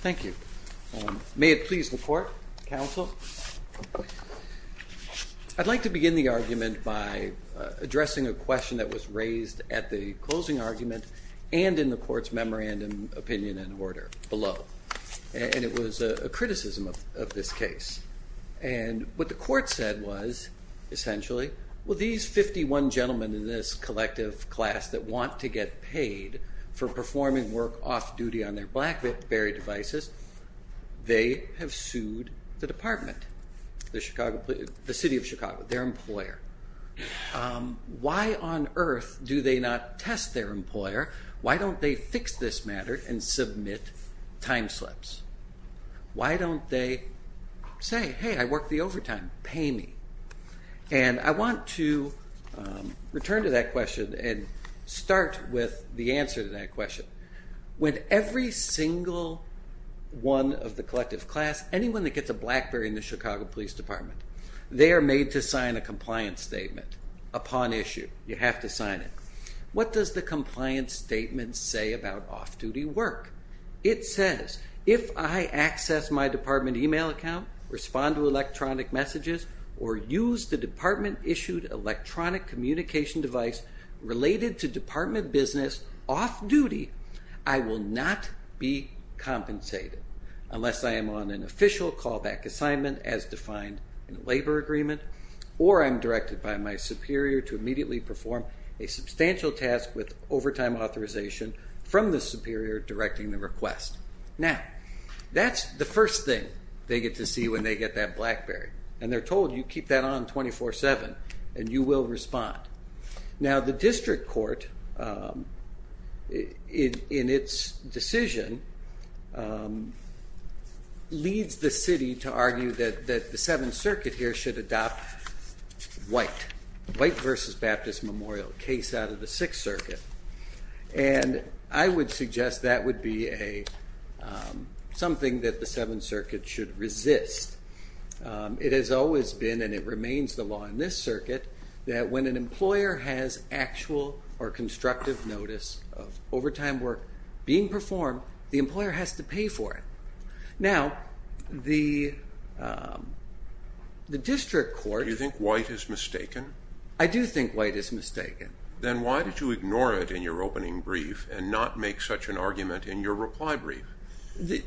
Thank you. May it please the court, counsel. I'd like to begin the argument by addressing a question that was raised at the closing argument and in the court's memorandum opinion and order below. And it was a criticism of this case. And what the court said was, essentially, well these 51 gentlemen in this collective class that want to get paid for performing work off-duty on their BlackBerry devices, they have sued the department, the City of Chicago, their employer. Why on earth do they not test their employer? Why don't they fix this matter and submit time slips? Why don't they say, hey, I work the overtime, pay me. And I want to return to that question and start with the answer to that question. When every single one of the collective class, anyone that gets a BlackBerry in the Chicago Police Department, they are made to sign a compliance statement upon issue. You have to sign it. What does the compliance statement say about off-duty work? It says, if I access my department email account, respond to electronic messages, or use the department-issued electronic communication device related to department business off-duty, I will not be compensated. Unless I am on an official callback assignment, as defined in a labor agreement, or I'm directed by my superior to immediately perform a substantial task with overtime authorization from the superior directing the request. Now, that's the first thing they get to see when they get that BlackBerry. And they're told, you keep that on 24-7 and you will respond. Now, the district court, in its decision, leads the city to argue that the Seventh Circuit here should adopt White versus Baptist Memorial, a case out of the Sixth Circuit. And I would suggest that would be something that the Seventh Circuit should resist. It has always been, and it remains the law in this circuit, that when an employer has actual or constructive notice of overtime work being performed, the employer has to pay for it. Now, the district court... Do you think White is mistaken? I do think White is mistaken. Then why did you ignore it in your opening brief and not make such an argument in your reply brief?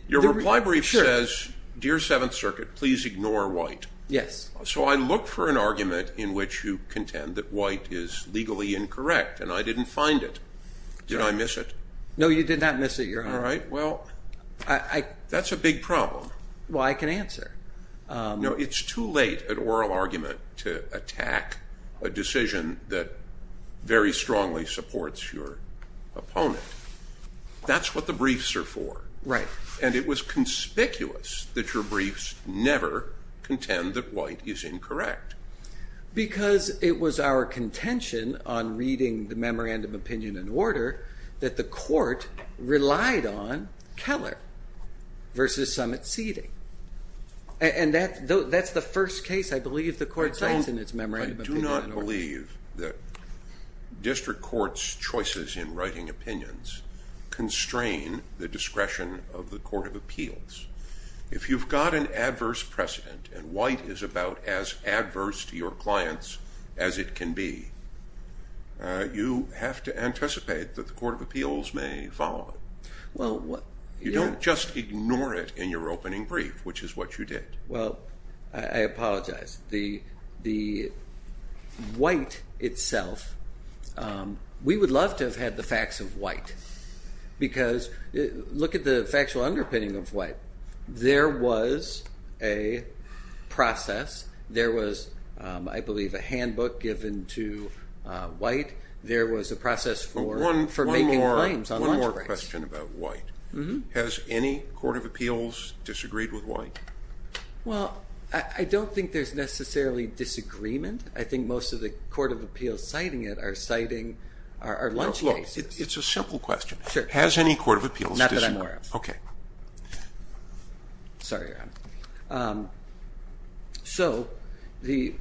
Your reply brief says, Dear Seventh Circuit, please ignore White. Yes. So I look for an argument in which you contend that White is legally incorrect, and I didn't find it. Did I miss it? No, you did not miss it, Your Honor. All right, well, that's a big problem. Well, I can answer. No, it's too late, an oral argument, to attack a decision that very strongly supports your opponent. That's what the briefs are for. Right. And it was conspicuous that your briefs never contend that White is incorrect. Because it was our contention on reading the Memorandum of Opinion and Order that the court relied on Keller versus some exceeding. And that's the first case I believe the court takes in its Memorandum of Opinion and Order. I do not believe that district courts' choices in writing opinions constrain the discretion of the Court of Appeals. If you've got an adverse precedent, and White is about as adverse to your clients as it can be, you have to anticipate that the Court of Appeals may follow it. You don't just ignore it in your opening brief, which is what you did. Well, I apologize. The White itself, we would love to have had the facts of White. Because look at the factual underpinning of White. There was a process. There was, I believe, a handbook given to White. There was a process for making claims on lunch breaks. One more question about White. Has any Court of Appeals disagreed with White? Well, I don't think there's necessarily disagreement. I think most of the Court of Appeals citing it are citing our lunch cases. Well, look, it's a simple question. Has any Court of Appeals disagreed? Not that I'm aware of. Okay. Sorry, Ron. So, you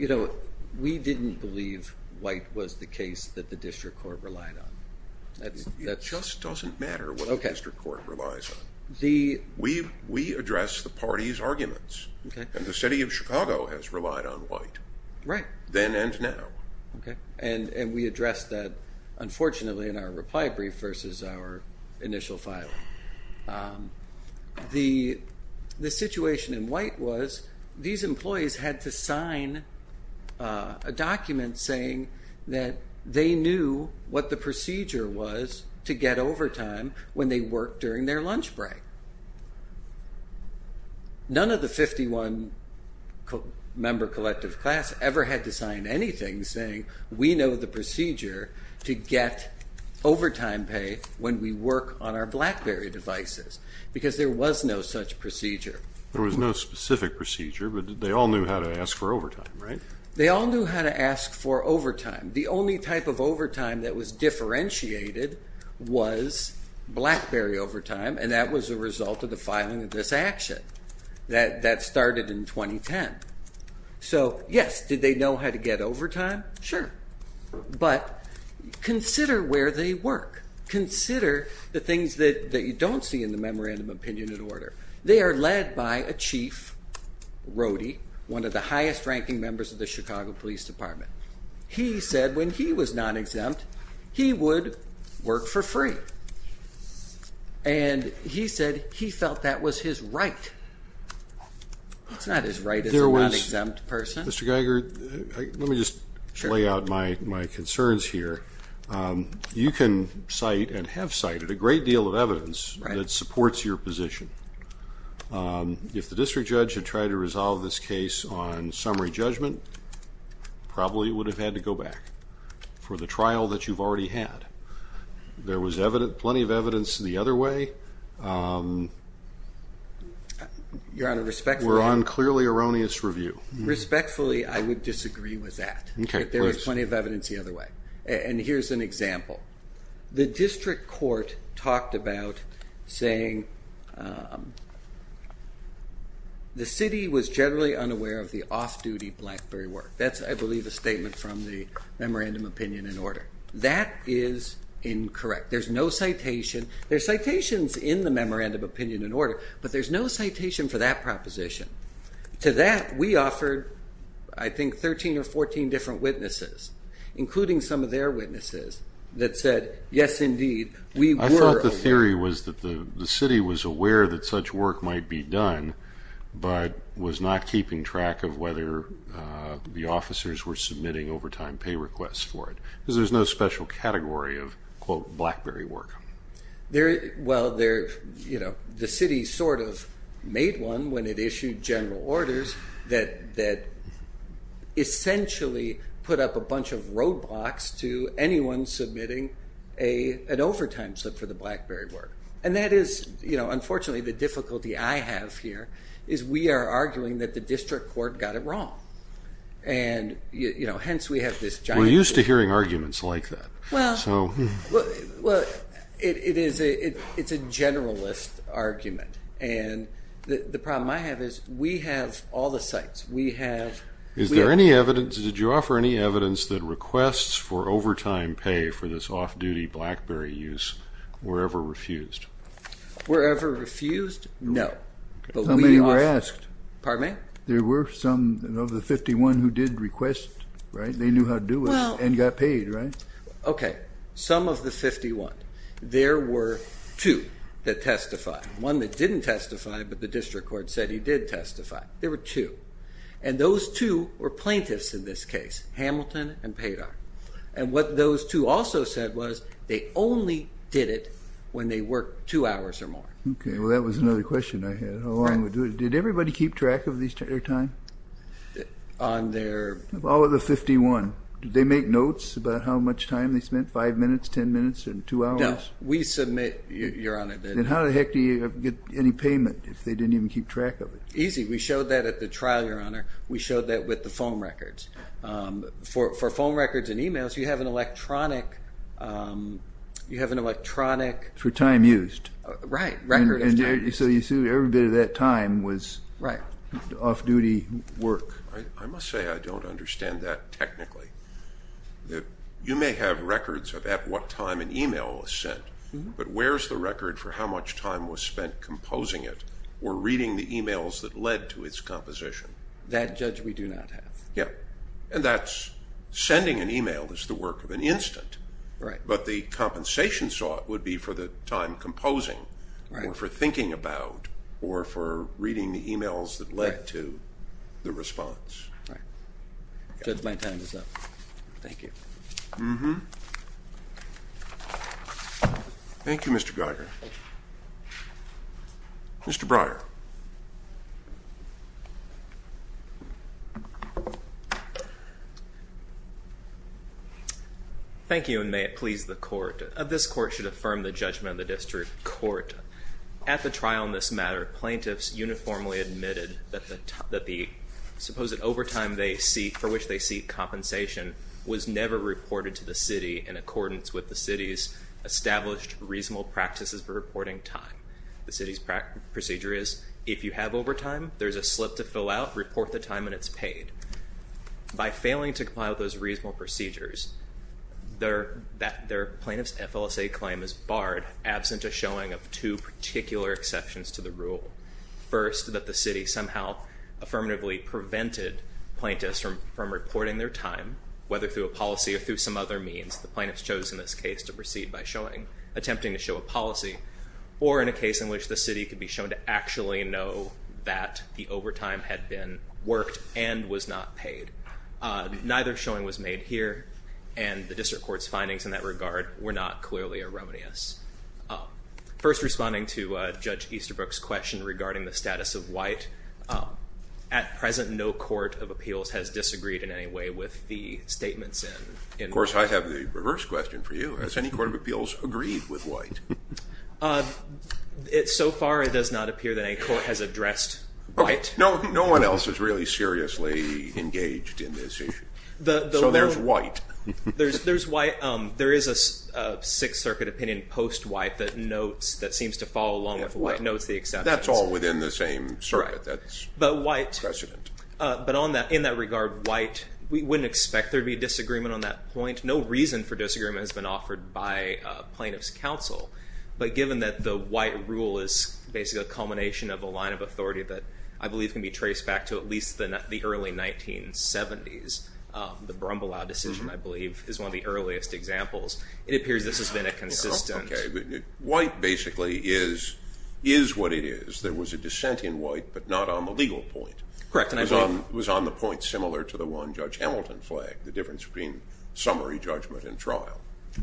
know, we didn't believe White was the case that the district court relied on. It just doesn't matter what the district court relies on. We address the party's arguments. And the city of Chicago has relied on White. Right. Then and now. Okay. And we address that, unfortunately, in our reply brief versus our initial filing. The situation in White was these employees had to sign a document saying that they knew what the procedure was to get overtime when they worked during their lunch break. None of the 51-member collective class ever had to sign anything saying, we know the procedure to get overtime pay when we work on our BlackBerry devices, because there was no such procedure. There was no specific procedure, but they all knew how to ask for overtime, right? They all knew how to ask for overtime. The only type of overtime that was differentiated was BlackBerry overtime, and that was a result of the filing of this action that started in 2010. So, yes, did they know how to get overtime? Sure. But consider where they work. Consider the things that you don't see in the Memorandum of Opinion and Order. They are led by a chief, Rody, one of the highest-ranking members of the Chicago Police Department. He said when he was non-exempt, he would work for free. And he said he felt that was his right. It's not his right as a non-exempt person. Mr. Geiger, let me just lay out my concerns here. You can cite and have cited a great deal of evidence that supports your position. If the district judge had tried to resolve this case on summary judgment, probably it would have had to go back for the trial that you've already had. There was plenty of evidence the other way. Your Honor, respectfully. We're on clearly erroneous review. Respectfully, I would disagree with that. Okay, please. There was plenty of evidence the other way. And here's an example. The district court talked about saying the city was generally unaware of the off-duty BlackBerry work. That's, I believe, a statement from the Memorandum of Opinion and Order. That is incorrect. There's no citation. There's citations in the Memorandum of Opinion and Order, but there's no citation for that proposition. To that, we offered, I think, 13 or 14 different witnesses, including some of their witnesses, that said, yes, indeed, we were aware. I thought the theory was that the city was aware that such work might be done, but was not keeping track of whether the officers were submitting overtime pay requests for it, because there's no special category of, quote, BlackBerry work. Well, the city sort of made one when it issued general orders that essentially put up a bunch of roadblocks to anyone submitting an overtime slip for the BlackBerry work. And that is, you know, unfortunately the difficulty I have here is we are arguing that the district court got it wrong. And, you know, hence we have this giant. We're used to hearing arguments like that. Well, it's a generalist argument. And the problem I have is we have all the sites. Did you offer any evidence that requests for overtime pay for this off-duty BlackBerry use were ever refused? Were ever refused? No. Somebody asked. Pardon me? There were some of the 51 who did request, right? They knew how to do it and got paid, right? Okay. Some of the 51. There were two that testified. One that didn't testify, but the district court said he did testify. There were two. And those two were plaintiffs in this case, Hamilton and Paydar. And what those two also said was they only did it when they worked two hours or more. Okay. Well, that was another question I had. How long did they do it? Did everybody keep track of their time? On their... All of the 51. Did they make notes about how much time they spent? Five minutes, ten minutes, or two hours? No. We submit, Your Honor. Then how the heck do you get any payment if they didn't even keep track of it? Easy. We showed that at the trial, Your Honor. We showed that with the phone records. For phone records and emails, you have an electronic... You have an electronic... For time used. Right. Record of time used. So you assume every bit of that time was off-duty work. I must say I don't understand that technically. You may have records of at what time an email was sent, but where's the record for how much time was spent composing it or reading the emails that led to its composition? That, Judge, we do not have. Yeah. And that's sending an email is the work of an instant. Right. But the compensation sought would be for the time composing or for thinking about or for reading the emails that led to the response. Right. Judge, my time is up. Thank you. Mm-hmm. Thank you, Mr. Geiger. Mr. Breyer. Thank you, and may it please the Court. This Court should affirm the judgment of the District Court. At the trial in this matter, plaintiffs uniformly admitted that the supposed overtime for which they seek compensation was never reported to the city in accordance with the city's established reasonable practices for reporting time. The city's procedure is if you have overtime, there's a slip to fill out, report the time, and it's paid. By failing to comply with those reasonable procedures, their plaintiff's FLSA claim is barred, absent a showing of two particular exceptions to the rule. First, that the city somehow affirmatively prevented plaintiffs from reporting their time, whether through a policy or through some other means. The plaintiffs chose in this case to proceed by attempting to show a policy or in a case in which the city could be shown to actually know that the overtime had worked and was not paid. Neither showing was made here, and the District Court's findings in that regard were not clearly erroneous. First, responding to Judge Easterbrook's question regarding the status of white, at present no court of appeals has disagreed in any way with the statements in white. Of course, I have the reverse question for you. Has any court of appeals agreed with white? So far it does not appear that any court has addressed white. No one else is really seriously engaged in this issue. So there's white. There is a Sixth Circuit opinion post-white that seems to follow along with white, notes the exceptions. That's all within the same circuit. That's precedent. But in that regard, white, we wouldn't expect there to be a disagreement on that point. No reason for disagreement has been offered by plaintiffs' counsel. But given that the white rule is basically a culmination of a line of authority that I believe can be traced back to at least the early 1970s, the Brumbulow decision, I believe, is one of the earliest examples, it appears this has been a consistent. Okay. White basically is what it is. There was a dissent in white but not on the legal point. Correct. It was on the point similar to the one Judge Hamilton flagged, the difference between summary judgment and trial.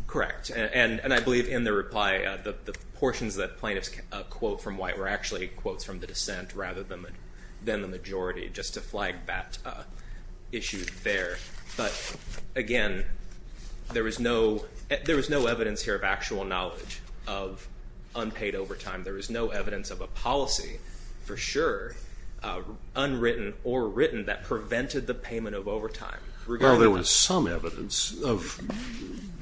Correct. And I believe in the reply the portions that plaintiffs quote from white were actually quotes from the dissent rather than the majority, just to flag that issue there. But, again, there was no evidence here of actual knowledge of unpaid overtime. There was no evidence of a policy for sure, unwritten or written, that prevented the payment of overtime. Well, there was some evidence of,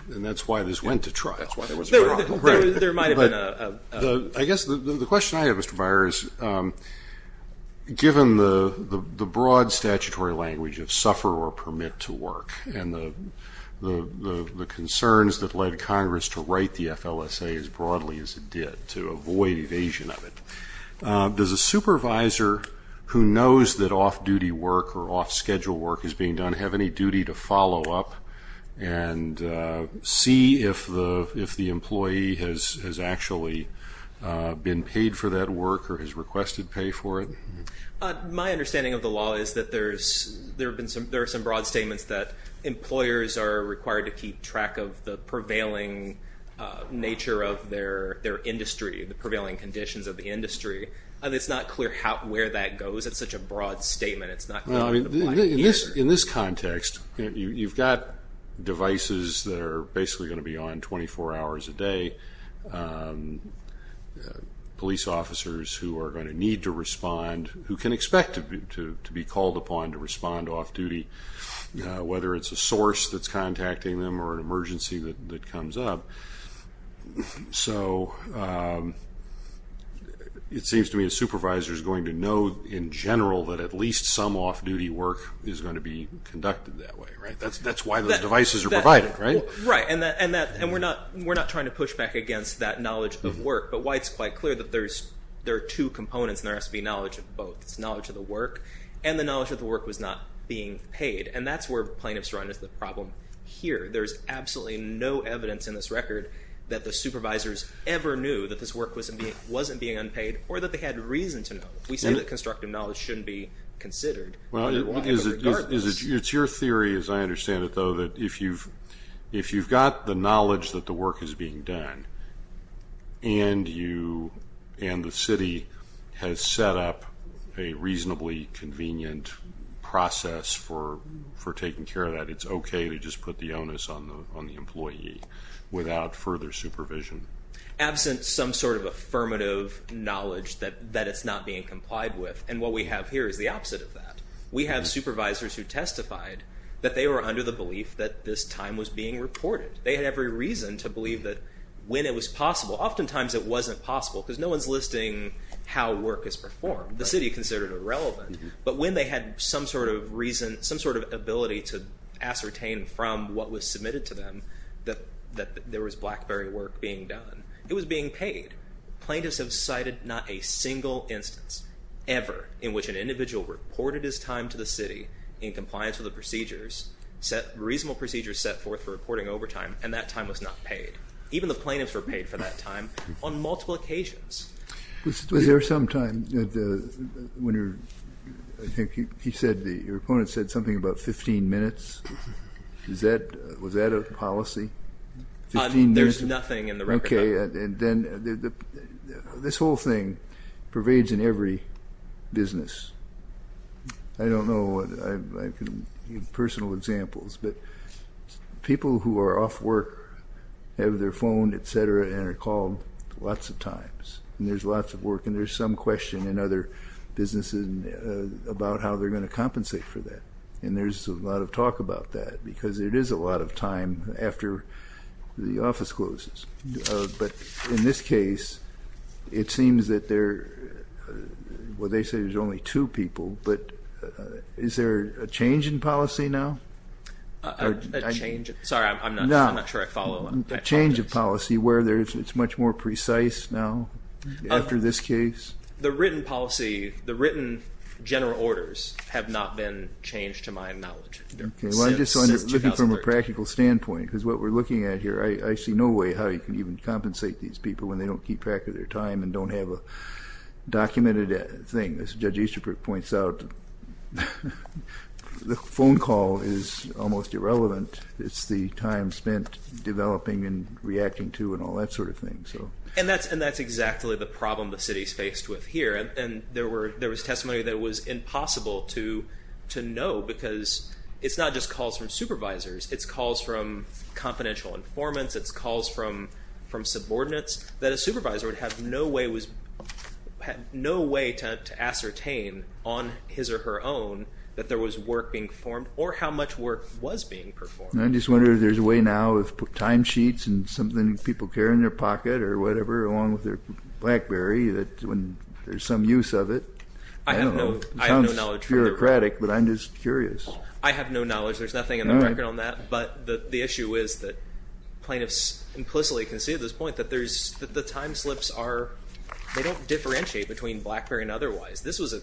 and that's why this went to trial. That's why there was a problem. There might have been a ---- I guess the question I have, Mr. Meyer, is given the broad statutory language of suffer or permit to work and the concerns that led Congress to write the FLSA as broadly as it did to avoid evasion of it, does a supervisor who knows that off-duty work or off-schedule work is being done have any duty to follow up and see if the employee has actually been paid for that work or has requested pay for it? My understanding of the law is that there are some broad statements that employers are required to keep track of the prevailing nature of their industry, the prevailing conditions of the industry. It's not clear where that goes. It's such a broad statement. It's not clear what the point is. In this context, you've got devices that are basically going to be on 24 hours a day, police officers who are going to need to respond, who can expect to be called upon to respond to off-duty, whether it's a source that's contacting them or an emergency that comes up. So it seems to me a supervisor is going to know in general that at least some off-duty work is going to be conducted that way, right? That's why those devices are provided, right? Right, and we're not trying to push back against that knowledge of work, but why it's quite clear that there are two components and there has to be knowledge of both. It's knowledge of the work and the knowledge that the work was not being paid, and that's where plaintiffs run into the problem here. There's absolutely no evidence in this record that the supervisors ever knew that this work wasn't being unpaid or that they had reason to know. We say that constructive knowledge shouldn't be considered. It's your theory, as I understand it, though, that if you've got the knowledge that the work is being done and the city has set up a reasonably convenient process for taking care of that, it's okay to just put the onus on the employee without further supervision. Absent some sort of affirmative knowledge that it's not being complied with, and what we have here is the opposite of that. We have supervisors who testified that they were under the belief that this time was being reported. They had every reason to believe that when it was possible. Oftentimes it wasn't possible because no one's listing how work is performed. The city considered it irrelevant, but when they had some sort of reason, some sort of ability to ascertain from what was submitted to them that there was BlackBerry work being done, it was being paid. Plaintiffs have cited not a single instance ever in which an individual reported his time to the city in compliance with the procedures, reasonable procedures set forth for reporting overtime, and that time was not paid. Even the plaintiffs were paid for that time on multiple occasions. Was there some time when your opponent said something about 15 minutes? Was that a policy? There's nothing in the record. Okay, and then this whole thing pervades in every business. I don't know. I can give personal examples. But people who are off work have their phone, et cetera, and are called lots of times, and there's lots of work, and there's some question in other businesses about how they're going to compensate for that. And there's a lot of talk about that because it is a lot of time after the office closes. But in this case, it seems that there are, well, they say there's only two people, but is there a change in policy now? A change? Sorry, I'm not sure I follow. A change of policy where it's much more precise now after this case? The written policy, the written general orders, have not been changed to my knowledge since 2013. Okay, well, I'm just looking from a practical standpoint because what we're looking at here, I see no way how you can even compensate these people when they don't keep track of their time and don't have a documented thing. As Judge Easterbrook points out, the phone call is almost irrelevant. It's the time spent developing and reacting to and all that sort of thing. And that's exactly the problem the city is faced with here. And there was testimony that it was impossible to know because it's not just calls from supervisors, it's calls from confidential informants, it's calls from subordinates, that a supervisor would have no way to ascertain, on his or her own, that there was work being formed or how much work was being performed. I'm just wondering if there's a way now, with timesheets and something people carry in their pocket or whatever, along with their BlackBerry, that there's some use of it. I don't know. It sounds bureaucratic, but I'm just curious. I have no knowledge. There's nothing in the record on that. But the issue is that plaintiffs implicitly concede this point that the time slips are, they don't differentiate between BlackBerry and otherwise. This was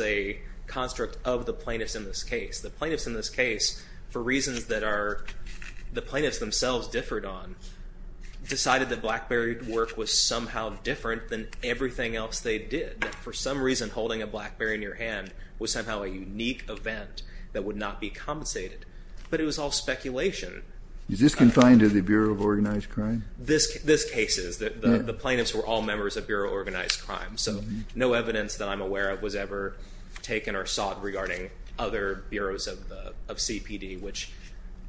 a construct of the plaintiffs in this case. The plaintiffs in this case, for reasons that the plaintiffs themselves differed on, decided that BlackBerry work was somehow different than everything else they did, that for some reason holding a BlackBerry in your hand was somehow a unique event that would not be compensated. But it was all speculation. Is this confined to the Bureau of Organized Crime? This case is. The plaintiffs were all members of Bureau of Organized Crime, so no evidence that I'm aware of was ever taken or sought regarding other bureaus of CPD, which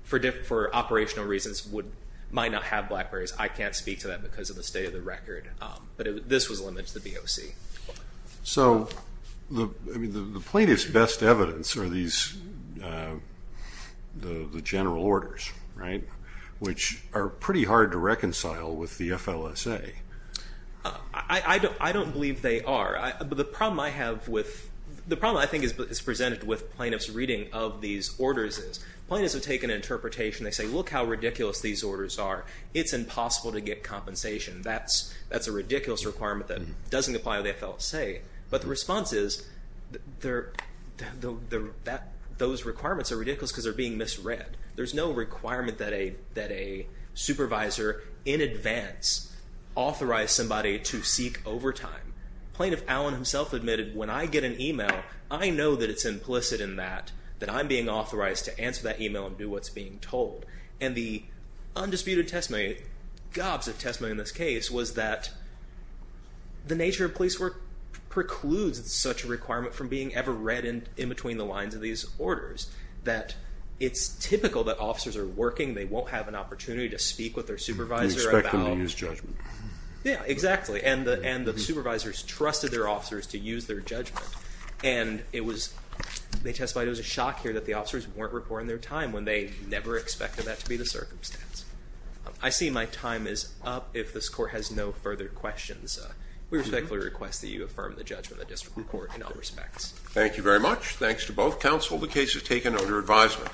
for operational reasons might not have BlackBerrys. I can't speak to that because of the state of the record. But this was limited to the BOC. So the plaintiff's best evidence are the general orders, right, which are pretty hard to reconcile with the FLSA. I don't believe they are. The problem I have with, the problem I think is presented with plaintiffs' reading of these orders is plaintiffs have taken an interpretation. They say, look how ridiculous these orders are. It's impossible to get compensation. That's a ridiculous requirement that doesn't apply to the FLSA. But the response is, those requirements are ridiculous because they're being misread. There's no requirement that a supervisor in advance authorize somebody to seek overtime. Plaintiff Allen himself admitted, when I get an email, I know that it's implicit in that, that I'm being authorized to answer that email and do what's being told. And the undisputed testimony, gobs of testimony in this case, was that the nature of police work precludes such a requirement from being ever read in between the lines of these orders, that it's typical that officers are working, they won't have an opportunity to speak with their supervisor about how to use judgment. Yeah, exactly. And the supervisors trusted their officers to use their judgment. And they testified it was a shock here that the officers weren't reporting their time when they never expected that to be the circumstance. I see my time is up if this court has no further questions. We respectfully request that you affirm the judgment of the district court in all respects. Thank you very much. Thanks to both counsel. The case is taken under advisement.